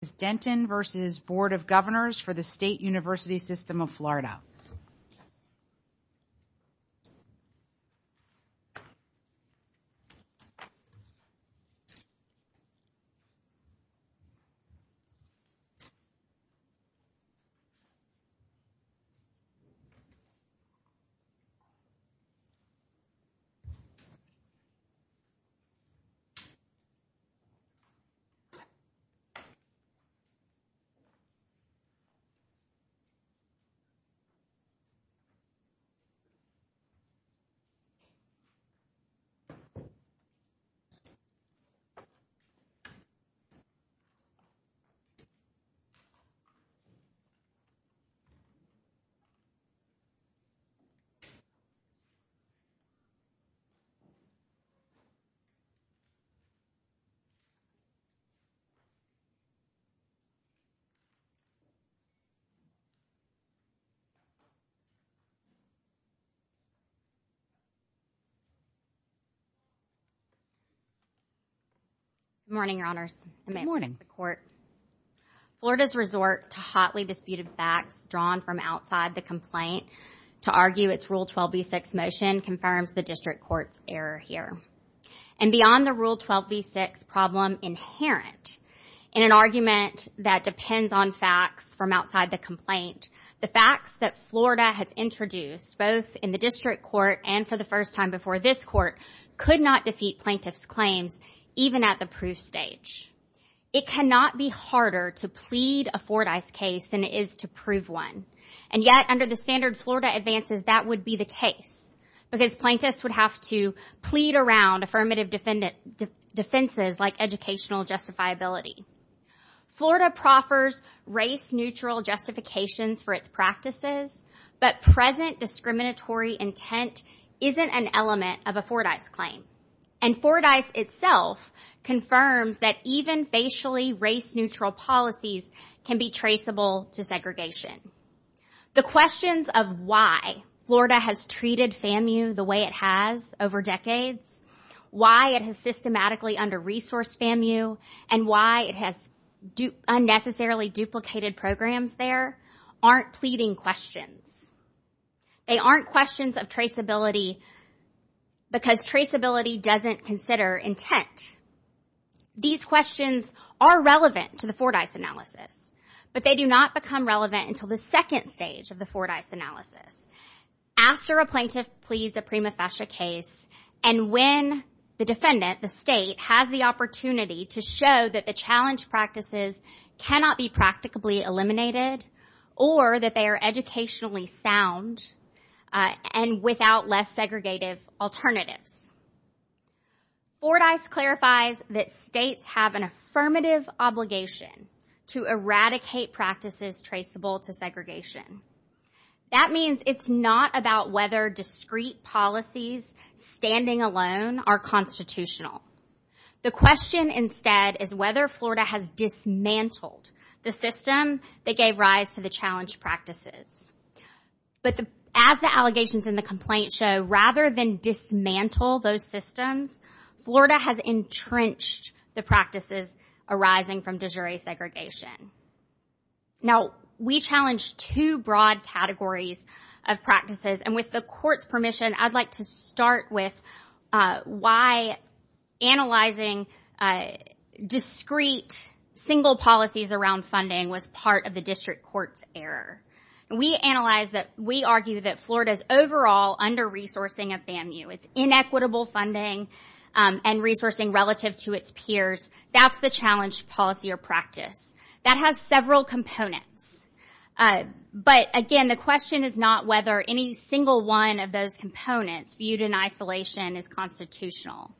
is Denton v. Board of Governors for the State University System of Florida. Good morning, Your Honors, and good morning to the Court. Florida's resort to hotly disputed facts drawn from outside the complaint to argue its Rule 12b6 motion confirms the District Court's error here. And beyond the Rule 12b6 problem inherent in an argument that depends on facts from outside the complaint, the facts that Florida has introduced both in the District Court and for the first time before this Court could not defeat plaintiffs' claims even at the proof stage. It cannot be harder to plead a Fordyce case than it is to prove one. And yet, under the standard Florida advances, that would be the case because plaintiffs would have to plead around affirmative defenses like educational justifiability. Florida proffers race-neutral justifications for its practices, but present discriminatory intent isn't an element of a Fordyce claim. And Fordyce itself confirms that even facially race-neutral policies can be traceable to The questions of why Florida has treated FAMU the way it has over decades, why it has systematically under-resourced FAMU, and why it has unnecessarily duplicated programs there aren't pleading questions. They aren't questions of traceability because traceability doesn't consider intent. These questions are relevant to the Fordyce analysis, but they do not become relevant until the second stage of the Fordyce analysis, after a plaintiff pleads a prima facie case and when the defendant, the state, has the opportunity to show that the challenge practices cannot be practicably eliminated or that they are educationally sound and without less segregative alternatives. Fordyce clarifies that states have an affirmative obligation to eradicate practices traceable to segregation. That means it's not about whether discrete policies standing alone are constitutional. The question instead is whether Florida has dismantled the system that gave rise to the challenge practices. But as the allegations in the complaint show, rather than dismantle those systems, Florida has entrenched the practices arising from de jure segregation. Now, we challenge two broad categories of practices, and with the court's permission, I'd like to start with why analyzing discrete single policies around funding was part of the district court's error. We argue that Florida's overall under-resourcing of FAMU, its inequitable funding and resourcing relative to its peers, that's the challenge policy or practice. That has several components, but again, the question is not whether any single one of those components viewed in isolation is constitutional.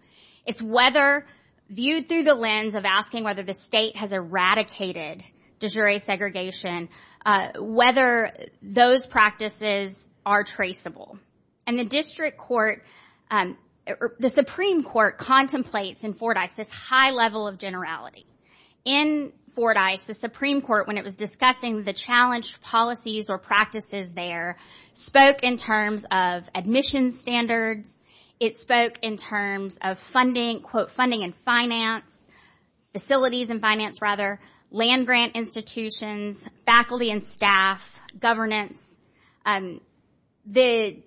It's whether, viewed through the lens of asking whether the state has eradicated de jure segregation, whether those practices are traceable. The district court, the Supreme Court contemplates in Fordyce this high level of generality. In Fordyce, the Supreme Court, when it was discussing the challenge policies or practices there, spoke in terms of admission standards. It spoke in terms of funding and finance, facilities and finance rather, land-grant institutions, faculty and staff, governance. The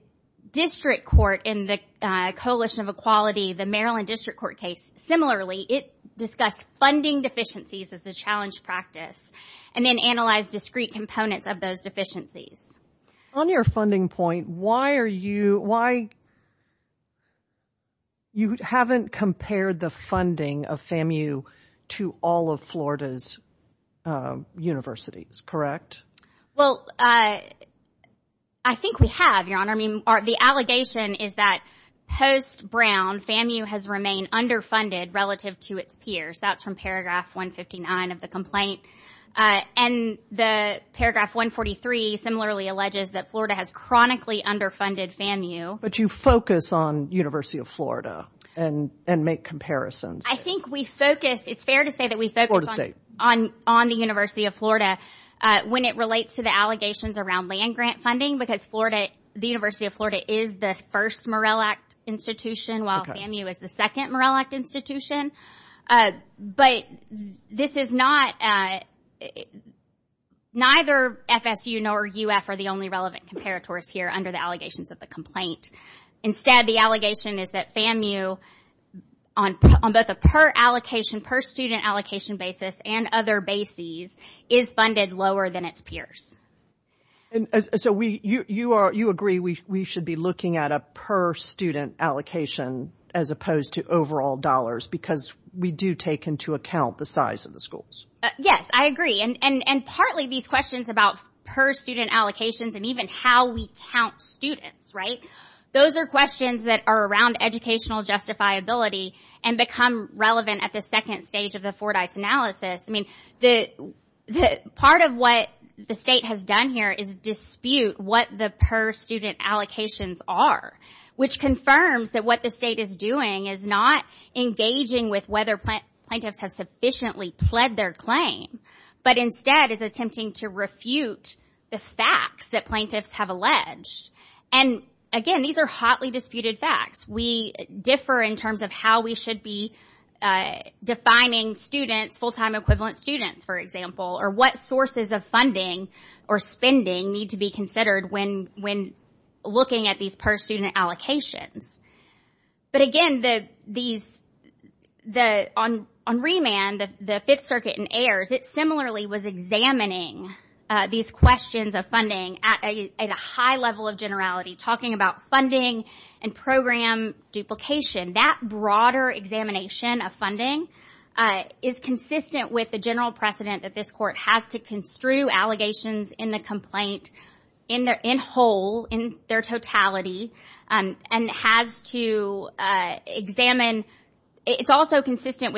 district court in the Coalition of Equality, the Maryland District Court case, similarly, it discussed funding deficiencies as a challenge practice, and then analyzed discrete components of those deficiencies. On your funding point, why are you, why, you haven't compared the funding of FAMU to all of Florida's universities, correct? Well, I think we have, Your Honor. The allegation is that post-Brown, FAMU has remained underfunded relative to its peers. That's from paragraph 159 of the complaint. And the paragraph 143 similarly alleges that Florida has chronically underfunded FAMU. But you focus on University of Florida and make comparisons. I think we focus, it's fair to say that we focus on the University of Florida when it relates to the allegations around land-grant funding, because the University of Florida is the first Morrell Act institution, while FAMU is the second Morrell Act institution. But this is not, neither FSU nor UF are the only relevant comparators here under the allegations of the complaint. Instead, the allegation is that FAMU, on both a per-allocation, per-student allocation basis and other bases, is funded lower than its peers. And so, you agree we should be looking at a per-student allocation as opposed to overall dollars because we do take into account the size of the schools? Yes, I agree. And partly these questions about per-student allocations and even how we count students, right? Those are questions that are around educational justifiability and become relevant at the second stage of the Fordyce analysis. I mean, part of what the state has done here is dispute what the per-student allocations are, which confirms that what the state is doing is not engaging with whether plaintiffs have sufficiently pled their claim, but instead is attempting to refute the facts that plaintiffs have alleged. And again, these are hotly disputed facts. We differ in terms of how we should be defining students, full-time equivalent students, for example, or what sources of funding or spending need to be considered when looking at these per-student allocations. But again, on remand, the Fifth Circuit and AERS, it similarly was examining these questions of funding at a high level of generality, talking about funding and program duplication. That broader examination of funding is consistent with the general precedent that this Court has to construe allegations in the complaint in whole, in their totality, and has to examine – it's also consistent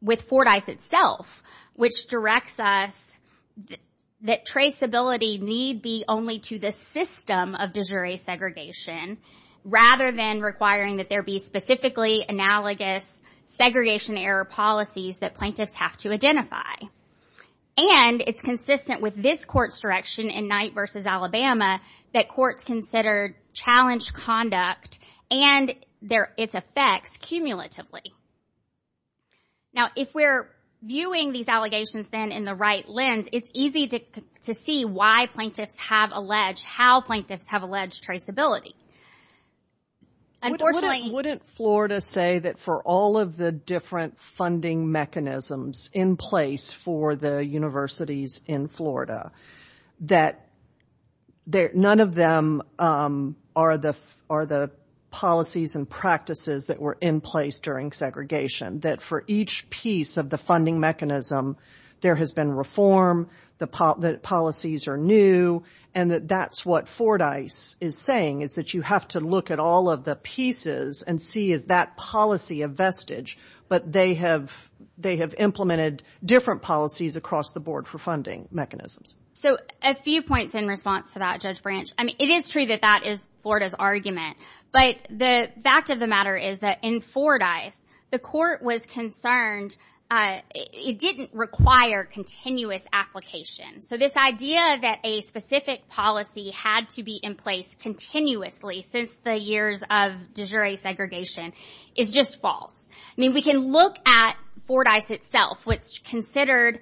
with Fordyce itself, which directs us that traceability is not need be only to the system of de jure segregation, rather than requiring that there be specifically analogous segregation error policies that plaintiffs have to identify. And it's consistent with this Court's direction in Knight v. Alabama that courts consider challenged conduct and its effects cumulatively. Now, if we're viewing these allegations then in the right lens, it's easy to see why plaintiffs have alleged, how plaintiffs have alleged traceability. Unfortunately... Wouldn't Florida say that for all of the different funding mechanisms in place for the universities in Florida, that none of them are the policies and practices that were in place during state segregation? That for each piece of the funding mechanism, there has been reform, the policies are new, and that that's what Fordyce is saying, is that you have to look at all of the pieces and see, is that policy a vestige? But they have implemented different policies across the board for funding mechanisms. So, a few points in response to that, Judge Branch. I mean, it is true that that is Florida's argument, but the fact of the matter is that in Fordyce, the court was concerned, it didn't require continuous application. So this idea that a specific policy had to be in place continuously since the years of de jure segregation is just false. I mean, we can look at Fordyce itself, which considered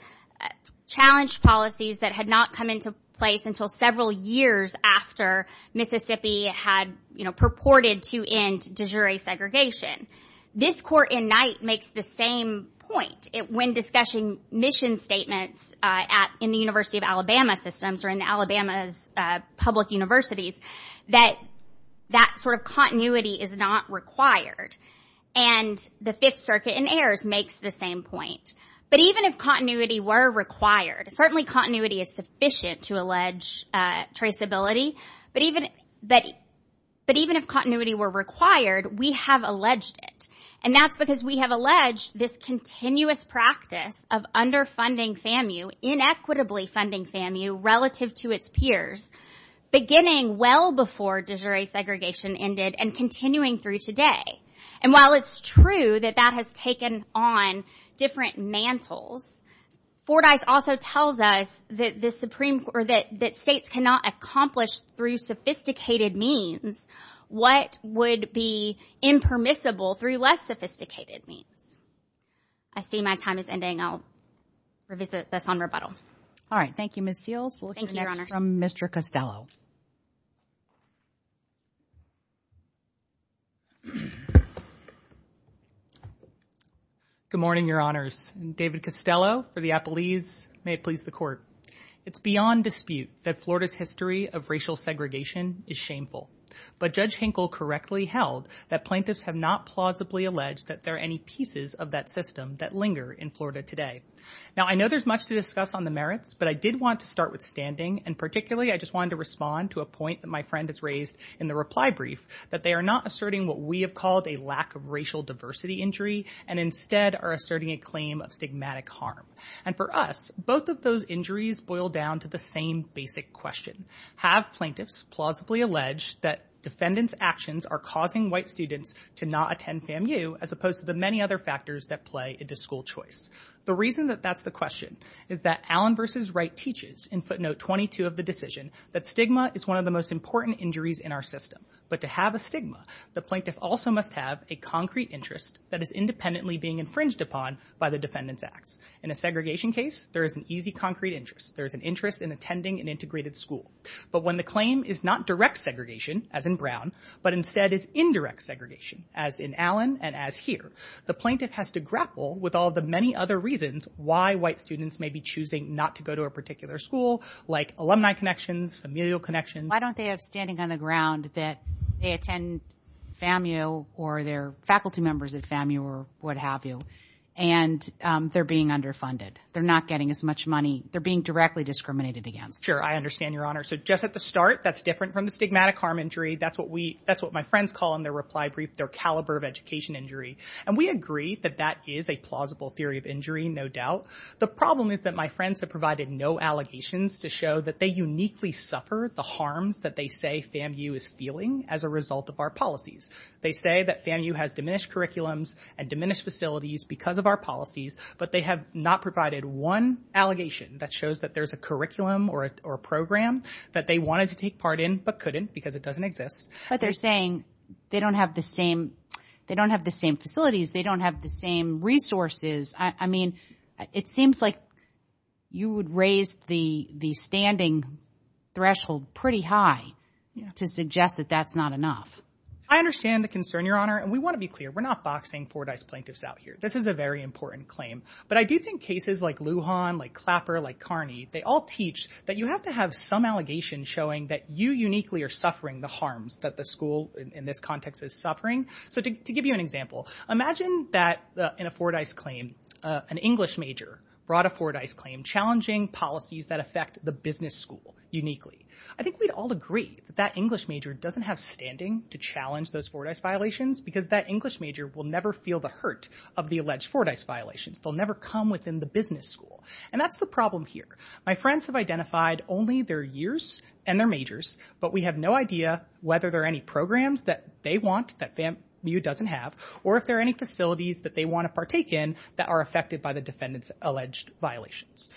challenged policies that had not come into place until several years after Mississippi had purported to end de jure segregation. This court in Knight makes the same point when discussing mission statements in the University of Alabama systems or in Alabama's public universities, that that sort of continuity is not required. And the Fifth Circuit in Ayers makes the same point. But even if continuity were required, certainly continuity is sufficient to allege traceability, but even if continuity were required, we have alleged it. And that's because we have alleged this continuous practice of underfunding FAMU, inequitably funding FAMU relative to its peers, beginning well before de jure segregation ended and continuing through today. And while it's true that that has taken on different mantles, Fordyce also tells us that the Supreme Court or that states cannot accomplish through sophisticated means what would be impermissible through less sophisticated means. I see my time is ending. I'll revisit this on rebuttal. All right. Thank you, Ms. Seals. Thank you, Your Honors. We'll hear next from Mr. Costello. Good morning, Your Honors. I'm David Costello for the Appellees. May it please the Court. It's beyond dispute that Florida's history of racial segregation is shameful. But Judge Hinkle correctly held that plaintiffs have not plausibly alleged that there are any pieces of that system that linger in Florida today. Now, I know there's much to discuss on the merits, but I did want to start with standing. And particularly, I just wanted to respond to a point that my friend has raised in the reply brief, that they are not asserting what we have called a lack of racial diversity injury and instead are asserting a claim of stigmatic harm. And for us, both of those injuries boil down to the same basic question. Have plaintiffs plausibly alleged that defendants' actions are causing white students to not attend FAMU as opposed to the many other factors that play into school choice? The reason that that's the question is that Allen v. Wright teaches in footnote 22 of the decision that stigma is one of the most important injuries in our system. But to have a stigma, the plaintiff also must have a concrete interest that is independently being infringed upon by the defendant's acts. In a segregation case, there is an easy concrete interest. There is an interest in attending an integrated school. But when the claim is not direct segregation, as in Brown, but instead is indirect segregation, as in Allen and as here, the plaintiff has to grapple with all the many other reasons why white students may be choosing not to go to a particular school, like alumni connections, familial connections. Why don't they have standing on the ground that they attend FAMU or their faculty members at FAMU or what have you, and they're being underfunded? They're not getting as much money. They're being directly discriminated against. Sure, I understand, Your Honor. So just at the start, that's different from the stigmatic harm injury. That's what my friends call in their reply brief their caliber of education injury. And we agree that that is a plausible theory of injury, no doubt. The problem is that my friends have provided no allegations to show that they uniquely suffer the harms that they say FAMU is feeling as a result of our policies. They say that FAMU has diminished curriculums and diminished facilities because of our policies, but they have not provided one allegation that shows that there's a curriculum or a program that they wanted to take part in but couldn't because it doesn't exist. But they're saying they don't have the same facilities. They don't have the same resources. I mean, it seems like you would raise the standing threshold pretty high to suggest that that's not enough. I understand the concern, Your Honor, and we want to be clear. We're not boxing Fordyce plaintiffs out here. This is a very important claim. But I do think cases like Lujan, like Clapper, like Carney, they all teach that you have to have some allegation showing that you uniquely are suffering the harms that the school, in this context, is suffering. So to give you an example, imagine that in a Fordyce claim, an English major brought a Fordyce claim challenging policies that affect the business school uniquely. I think we'd all agree that that English major doesn't have standing to challenge those Fordyce violations because that English major will never feel the hurt of the alleged Fordyce violations. They'll never come within the business school. And that's the problem here. My friends have identified only their years and their majors, but we have no idea whether there are any programs that they want that VAMU doesn't have or if there are any facilities that they want to partake in that are affected by the defendant's alleged violations.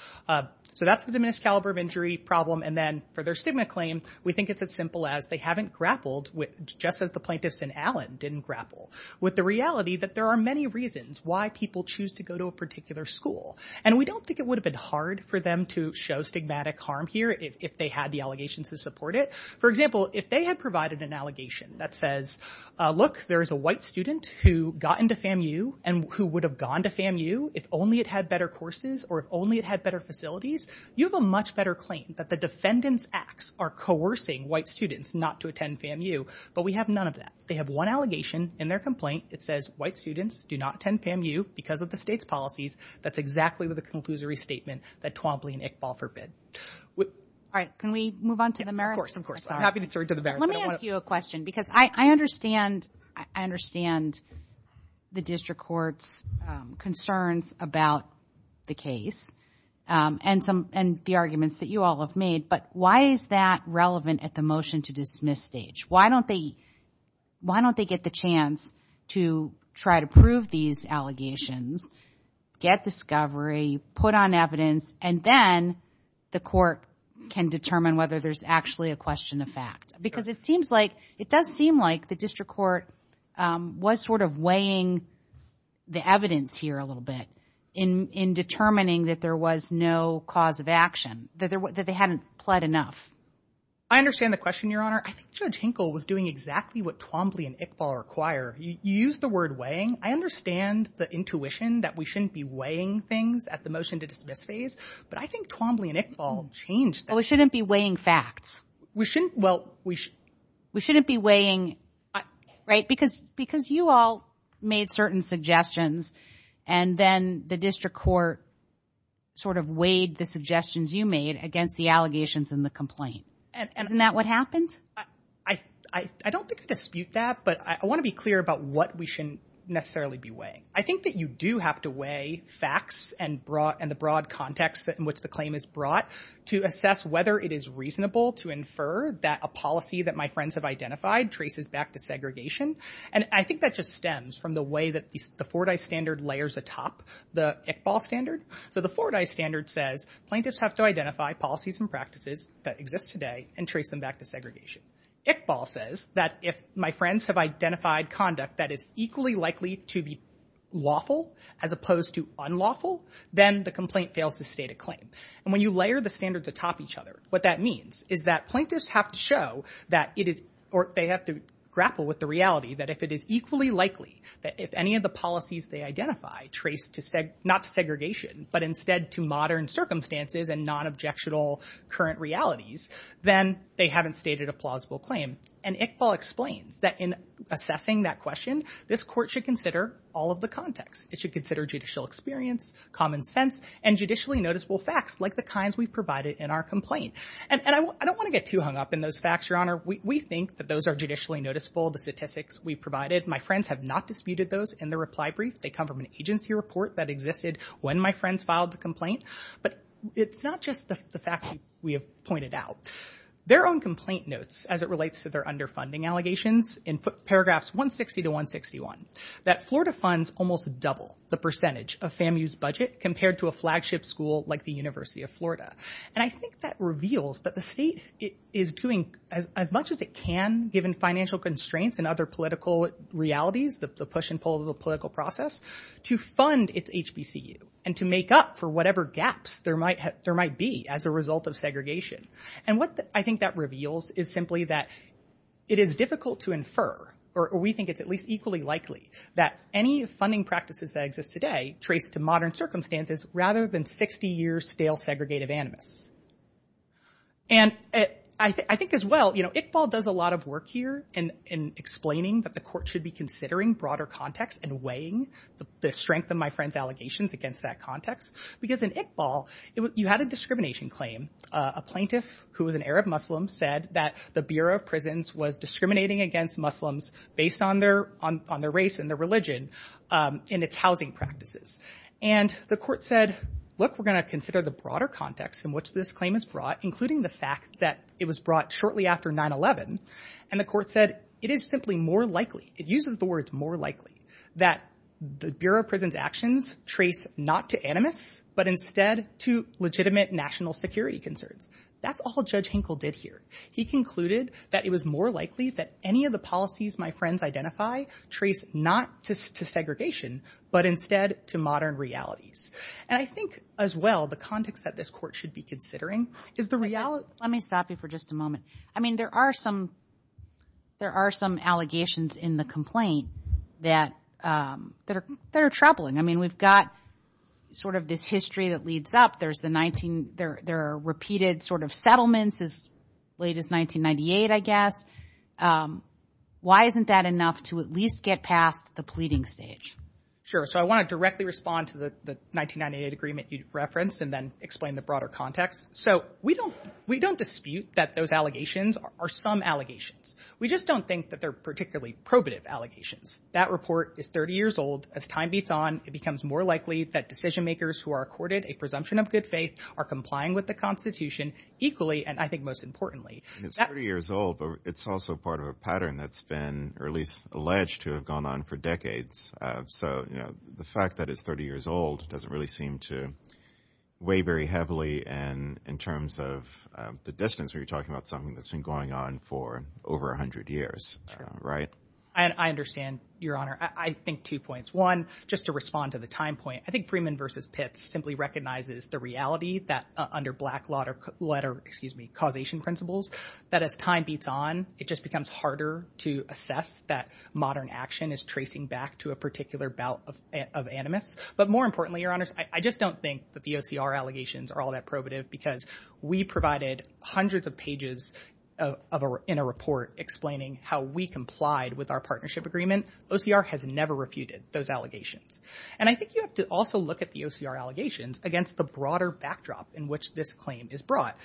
So that's the diminished caliber of injury problem. And then for their stigma claim, we think it's as simple as they haven't grappled with, just as the plaintiffs in Allen didn't grapple, with the reality that there are many reasons why people choose to go to a particular school. And we don't think it would have been hard for them to show stigmatic harm here if they had the allegations to support it. For example, if they had provided an allegation that says, look, there is a white student who got into VAMU and who would have gone to VAMU if only it had better courses or if only it had better facilities, you have a much better claim that the defendant's acts are coercing white students not to attend VAMU. But we have none of that. They have one allegation in their complaint. It says white students do not attend VAMU because of the state's policies. That's exactly the conclusory statement that Twombly and Iqbal forbid. All right. Can we move on to the merits? Of course, of course. I'm happy to turn to the merits. Let me ask you a question because I understand the district court's concerns about the case and the arguments that you all have made, but why is that relevant at the motion to dismiss stage? Why don't they get the chance to try to prove these allegations, get discovery, put on evidence, and then the court can determine whether there's actually a question of fact? Because it seems like, it does seem like, the district court was sort of weighing the evidence here a little bit in determining that there was no cause of action, that they hadn't pled enough. I understand the question, Your Honor. I think Judge Hinkle was doing exactly what Twombly and Iqbal require. You used the word weighing. I understand the intuition that we shouldn't be weighing things at the motion to dismiss phase, but I think Twombly and Iqbal changed that. Well, we shouldn't be weighing facts. We shouldn't. Well, we should. We shouldn't be weighing, right? Because you all made certain suggestions and then the district court sort of weighed the suggestions you made against the allegations in the complaint. Isn't that what happened? I don't think I dispute that, but I want to be clear about what we shouldn't necessarily be weighing. I think that you do have to weigh facts and the broad context in which the claim is brought to assess whether it is reasonable to infer that a policy that my friends have identified traces back to segregation. And I think that just stems from the way that the Fordyce standard layers atop the Iqbal standard. So the Fordyce standard says, plaintiffs have to identify policies and practices that exist today and trace them back to segregation. Iqbal says that if my friends have identified conduct that is equally likely to be lawful as opposed to unlawful, then the complaint fails to state a claim. And when you layer the standards atop each other, what that means is that plaintiffs have to show that it is, or they have to grapple with the reality that if it is equally likely that if any of the policies they identify trace to, not to segregation, but instead to modern circumstances and non-objectional current realities, then they haven't stated a plausible claim. And Iqbal explains that in assessing that question, this court should consider all of the context. It should consider judicial experience, common sense, and judicially noticeable facts like the kinds we've provided in our complaint. And I don't want to get too hung up in those facts, Your Honor. We think that those are judicially noticeable, the statistics we've provided. My friends have not disputed those in the reply brief. They come from an agency report that existed when my friends filed the complaint. But it's not just the facts we have pointed out. Their own complaint notes, as it relates to their underfunding allegations, in paragraphs 160 to 161, that Florida funds almost double the percentage of FAMU's budget compared to a flagship school like the University of Florida. And I think that reveals that the state is doing as much as it can, given financial constraints and other political realities, the push and pull of the political process, to fund its HBCU and to make up for whatever gaps there might be as a result of segregation. And what I think that reveals is simply that it is difficult to infer, or we think it's at least equally likely, that any funding practices that exist today trace to modern circumstances rather than 60-year stale, segregated animus. And I think as well, Iqbal does a lot of work here in explaining that the court should be considering broader context and weighing the strength of my friend's allegations against that context. Because in Iqbal, you had a discrimination claim. A plaintiff who was an Arab Muslim said that the Bureau of Prisons was discriminating against Muslims based on their race and their religion and its housing practices. And the court said, look, we're going to consider the broader context in which this claim is brought, including the fact that it was brought shortly after 9-11. And the court said, it is simply more likely, it uses the words more likely, that the Bureau of Prisons actions trace not to animus, but instead to legitimate national security concerns. That's all Judge Hinkle did here. He concluded that it was more likely that any of the policies my friends identify trace not to segregation, but instead to modern realities. And I think as well, the context that this court should be considering is the reality. Let me stop you for just a moment. I mean, there are some allegations in the complaint that are troubling. I mean, we've got sort of this history that leads up. There are repeated sort of settlements as late as 1998, I guess. Why isn't that enough to at least get past the pleading stage? Sure. So I want to directly respond to the 1998 agreement you referenced and then explain the broader context. So we don't dispute that those allegations are some allegations. We just don't think that they're particularly probative allegations. That report is 30 years old. As time beats on, it becomes more likely that decision makers who are accorded a presumption of good faith are complying with the Constitution equally, and I think most importantly. It's 30 years old, but it's also part of a pattern that's been or at least alleged to have gone on for decades. So, you know, the fact that it's 30 years old doesn't really seem to weigh very heavily in terms of the distance where you're talking about something that's been going on for over 100 years, right? I understand, Your Honor. I think two points. One, just to respond to the time point, I think Freeman versus Pitts simply recognizes the reality that under black letter, excuse me, causation principles, that as time beats on, it just becomes harder to assess that modern action is tracing back to a particular bout of animus. But more importantly, Your Honors, I just don't think that the OCR allegations are all that probative because we provided hundreds of pages in a report explaining how we complied with our partnership agreement. OCR has never refuted those allegations. And I think you have to also look at the OCR allegations against the broader backdrop in which this claim is brought.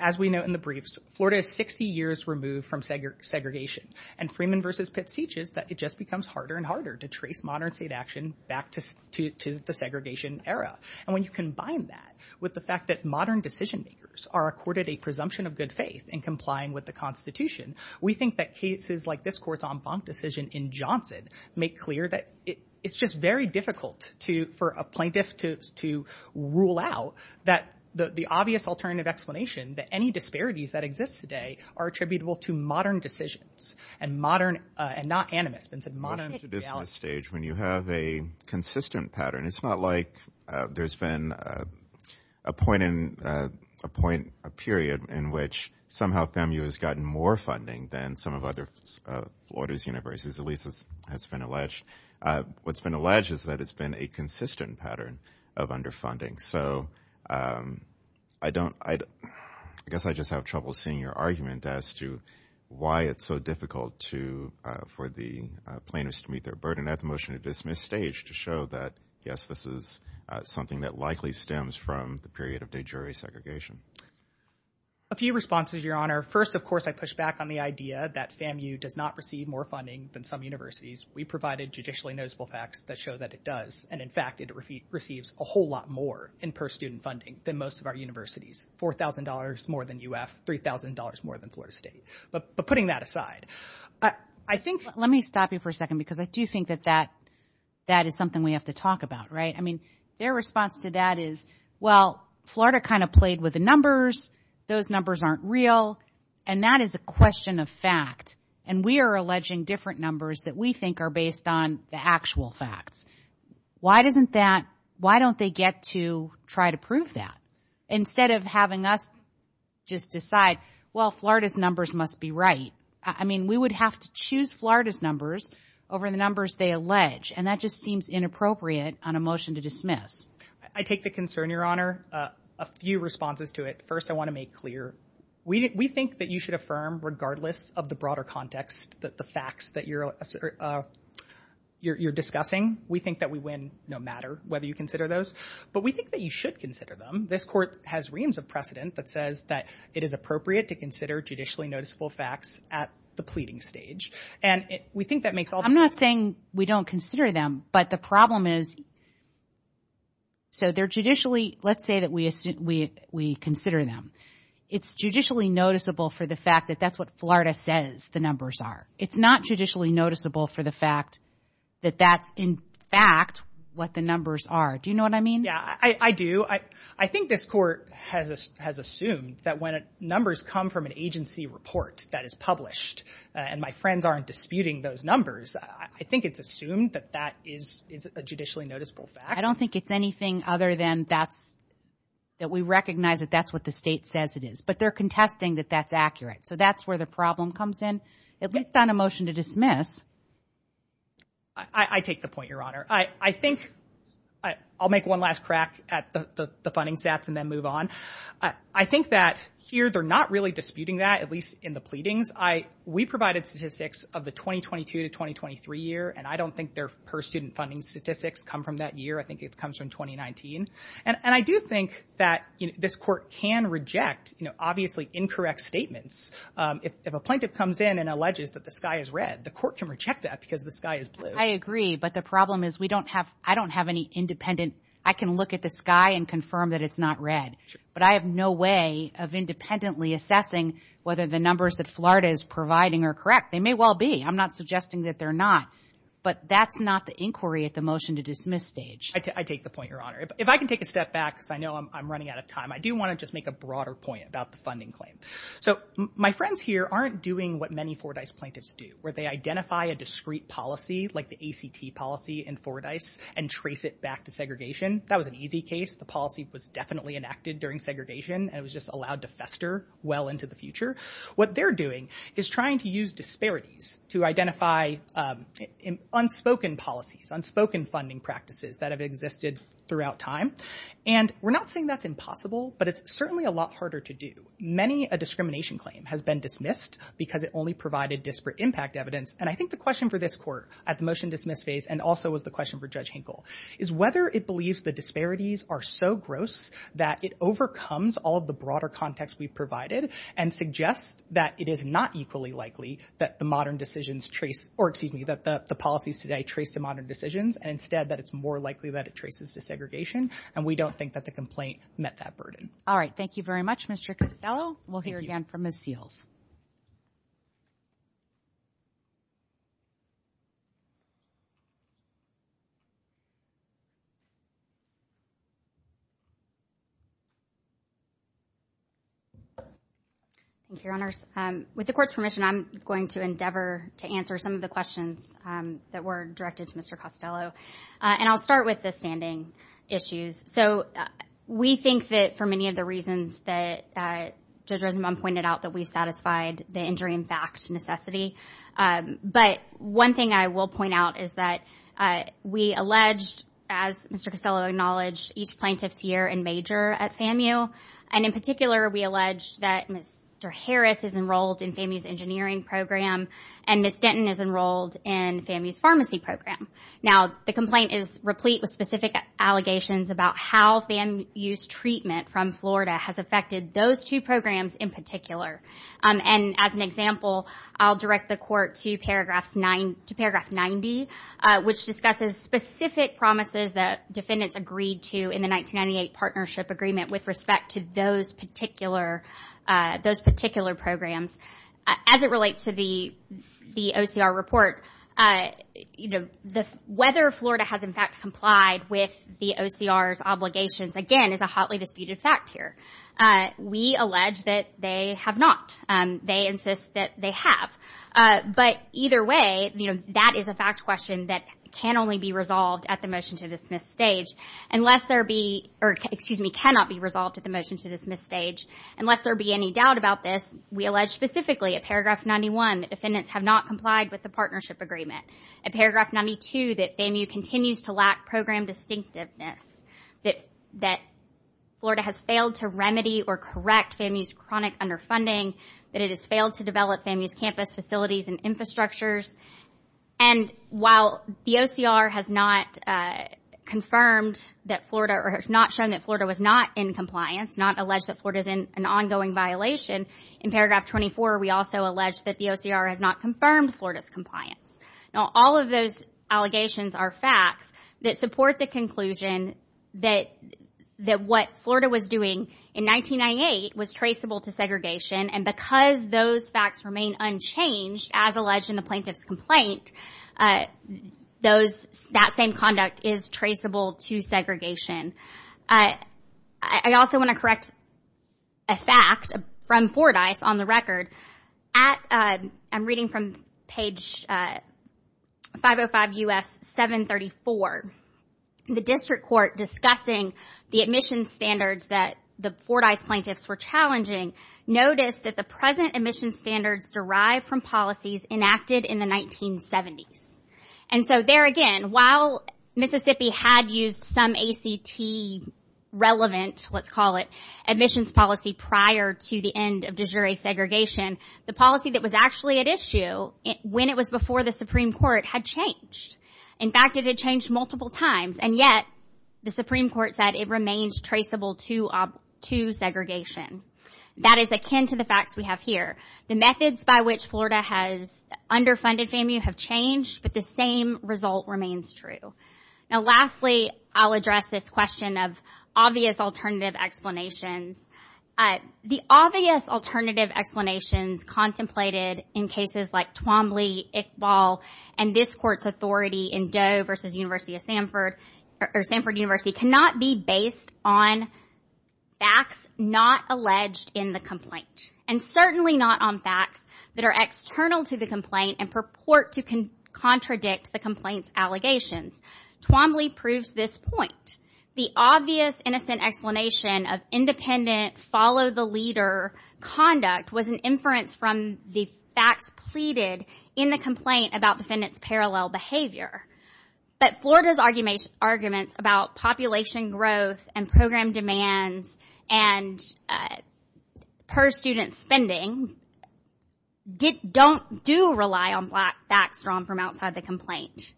As we know in the briefs, Florida is 60 years removed from segregation. And Freeman versus Pitts teaches that it just becomes harder and harder to trace modern state action back to the segregation era. And when you combine that with the fact that modern decision makers are accorded a presumption of good faith in complying with the Constitution, we think that cases like this court's en banc decision in Johnson make clear that it's just very difficult for a plaintiff to rule out that the obvious alternative explanation that any disparities that exist today are attributable to modern decisions and not animus, but modern analysis. When you have a consistent pattern, it's not like there's been a point in a period in which somehow FEMU has gotten more funding than some of other Florida's universities, at least as has been alleged. What's been alleged is that it's been a consistent pattern of underfunding. So I guess I just have trouble seeing your argument as to why it's so difficult for the plaintiffs to meet their burden. I have the motion to dismiss staged to show that, yes, this is something that likely A few responses, Your Honor. First, of course, I push back on the idea that FEMU does not receive more funding than some universities. We provided judicially noticeable facts that show that it does. And in fact, it receives a whole lot more in per-student funding than most of our universities, $4,000 more than UF, $3,000 more than Florida State. But putting that aside, I think... Let me stop you for a second because I do think that that is something we have to talk about. I mean, their response to that is, well, Florida kind of played with the numbers. Those numbers aren't real. And that is a question of fact. And we are alleging different numbers that we think are based on the actual facts. Why don't they get to try to prove that instead of having us just decide, well, Florida's numbers must be right? I mean, we would have to choose Florida's numbers over the numbers they allege. And that just seems inappropriate on a motion to dismiss. I take the concern, Your Honor. A few responses to it. First, I want to make clear. We think that you should affirm, regardless of the broader context, the facts that you're discussing. We think that we win no matter whether you consider those. But we think that you should consider them. This Court has reams of precedent that says that it is appropriate to consider judicially noticeable facts at the pleading stage. And we think that makes all the sense. I'm not saying we don't consider them. But the problem is, so they're judicially, let's say that we consider them. It's judicially noticeable for the fact that that's what Florida says the numbers are. It's not judicially noticeable for the fact that that's, in fact, what the numbers are. Do you know what I mean? Yeah, I do. I think this Court has assumed that when numbers come from an agency report that is published, and my friends aren't disputing those numbers, I think it's assumed that that is a judicially noticeable fact. I don't think it's anything other than that we recognize that that's what the state says it is. But they're contesting that that's accurate. So that's where the problem comes in, at least on a motion to dismiss. I take the point, Your Honor. I think I'll make one last crack at the funding stats and then move on. I think that here they're not really disputing that, at least in the pleadings. We provided statistics of the 2022 to 2023 year, and I don't think their per-student funding statistics come from that year. I think it comes from 2019. And I do think that this Court can reject, obviously, incorrect statements. If a plaintiff comes in and alleges that the sky is red, the Court can reject that because the sky is blue. I agree, but the problem is I don't have any independent—I can look at the sky and confirm that it's not red. But I have no way of independently assessing whether the numbers that Florida is providing are correct. They may well be. I'm not suggesting that they're not. But that's not the inquiry at the motion to dismiss stage. I take the point, Your Honor. If I can take a step back, because I know I'm running out of time, I do want to just make a broader point about the funding claim. So my friends here aren't doing what many Fordyce plaintiffs do, where they identify a discrete policy, like the ACT policy in Fordyce, and trace it back to segregation. That was an easy case. The policy was definitely enacted during segregation, and it was just allowed to fester well into the future. What they're doing is trying to use disparities to identify unspoken policies, unspoken funding practices that have existed throughout time. And we're not saying that's impossible, but it's certainly a lot harder to do. Many a discrimination claim has been dismissed because it only provided disparate impact evidence. And I think the question for this court at the motion to dismiss phase, and also was the question for Judge Hinkle, is whether it believes the disparities are so gross that it overcomes all of the broader context we've provided, and suggests that it is not equally likely that the modern decisions trace, or excuse me, that the policies today trace to modern decisions, and instead that it's more likely that it traces to segregation. And we don't think that the complaint met that burden. All right. Thank you very much, Mr. Costello. We'll hear again from Ms. Seals. Thank you, Your Honors. With the court's permission, I'm going to endeavor to answer some of the questions that were directed to Mr. Costello. And I'll start with the standing issues. We think that for many of the reasons that Judge Rosenbaum pointed out, that we've satisfied the injury in fact necessity. But one thing I will point out is that we alleged, as Mr. Costello acknowledged, each plaintiff's year and major at FAMU. And in particular, we alleged that Mr. Harris is enrolled in FAMU's engineering program, and Ms. Denton is enrolled in FAMU's pharmacy program. Now, the complaint is replete with specific allegations about how FAMU's treatment from Florida has affected those two programs in particular. And as an example, I'll direct the court to paragraph 90, which discusses specific promises that defendants agreed to in the 1998 partnership agreement with respect to those particular programs. As it relates to the OCR report, whether Florida has in fact complied with the OCR's obligations, again, is a hotly disputed fact here. We allege that they have not. They insist that they have. But either way, that is a fact question that can only be resolved at the motion to dismiss stage, unless there be, or excuse me, cannot be resolved at the motion to dismiss stage. Unless there be any doubt about this, we allege specifically at paragraph 91 that defendants have not complied with the partnership agreement. At paragraph 92, that FAMU continues to lack program distinctiveness. That Florida has failed to remedy or correct FAMU's chronic underfunding. That it has failed to develop FAMU's campus facilities and infrastructures. And while the OCR has not confirmed that Florida, or has not shown that Florida was not in compliance, not allege that Florida is in an ongoing violation, in paragraph 24 we also allege that the OCR has not confirmed Florida's compliance. Now, all of those allegations are facts that support the conclusion that what Florida was doing in 1998 was traceable to segregation. And because those facts remain unchanged, as alleged in the plaintiff's complaint, that same conduct is traceable to segregation. I also want to correct a fact from Fordyce on the record. I'm reading from page 505 U.S. 734. The district court discussing the admission standards that the Fordyce plaintiffs were challenging noticed that the present admission standards derived from policies enacted in the 1970s. And so there again, while Mississippi had used some ACT relevant, let's call it, admissions policy prior to the end of de jure segregation, the policy that was actually at issue when it was before the Supreme Court had changed. In fact, it had changed multiple times, and yet the Supreme Court said it remains traceable to segregation. That is akin to the facts we have here. The methods by which Florida has underfunded FAMU have changed, but the same result remains true. Now, lastly, I'll address this question of obvious alternative explanations. The obvious alternative explanations contemplated in cases like Twombly, Iqbal, and this Court's authority in Doe v. University of Sanford, or Sanford University, cannot be based on facts not alleged in the complaint, and certainly not on facts that are external to the complaint and purport to contradict the complaint's allegations. Twombly proves this point. The obvious innocent explanation of independent follow-the-leader conduct was an inference from the facts pleaded in the complaint about defendants' parallel behavior, but Florida's arguments about population growth and program demands and per-student spending don't do rely on facts drawn from outside the complaint.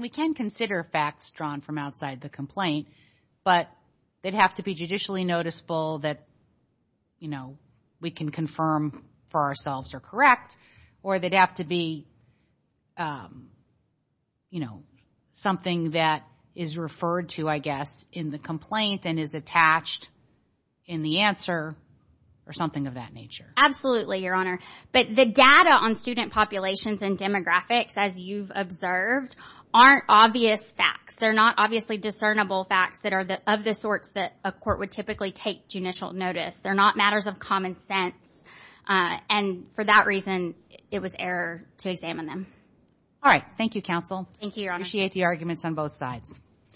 We can consider facts drawn from outside the complaint, but they'd have to be judicially noticeable that, you know, we can confirm for ourselves are correct, or they'd have to be, you know, something that is referred to, I guess, in the complaint and is attached in the answer, or something of that nature. Absolutely, Your Honor, but the data on student populations and demographics, as you've observed, aren't obvious facts. They're not obviously discernible facts that are of the sorts that a court would typically take judicial notice. They're not matters of common sense, and for that reason, it was error to examine them. All right. Thank you, counsel. Thank you, Your Honor. Appreciate the arguments on both sides.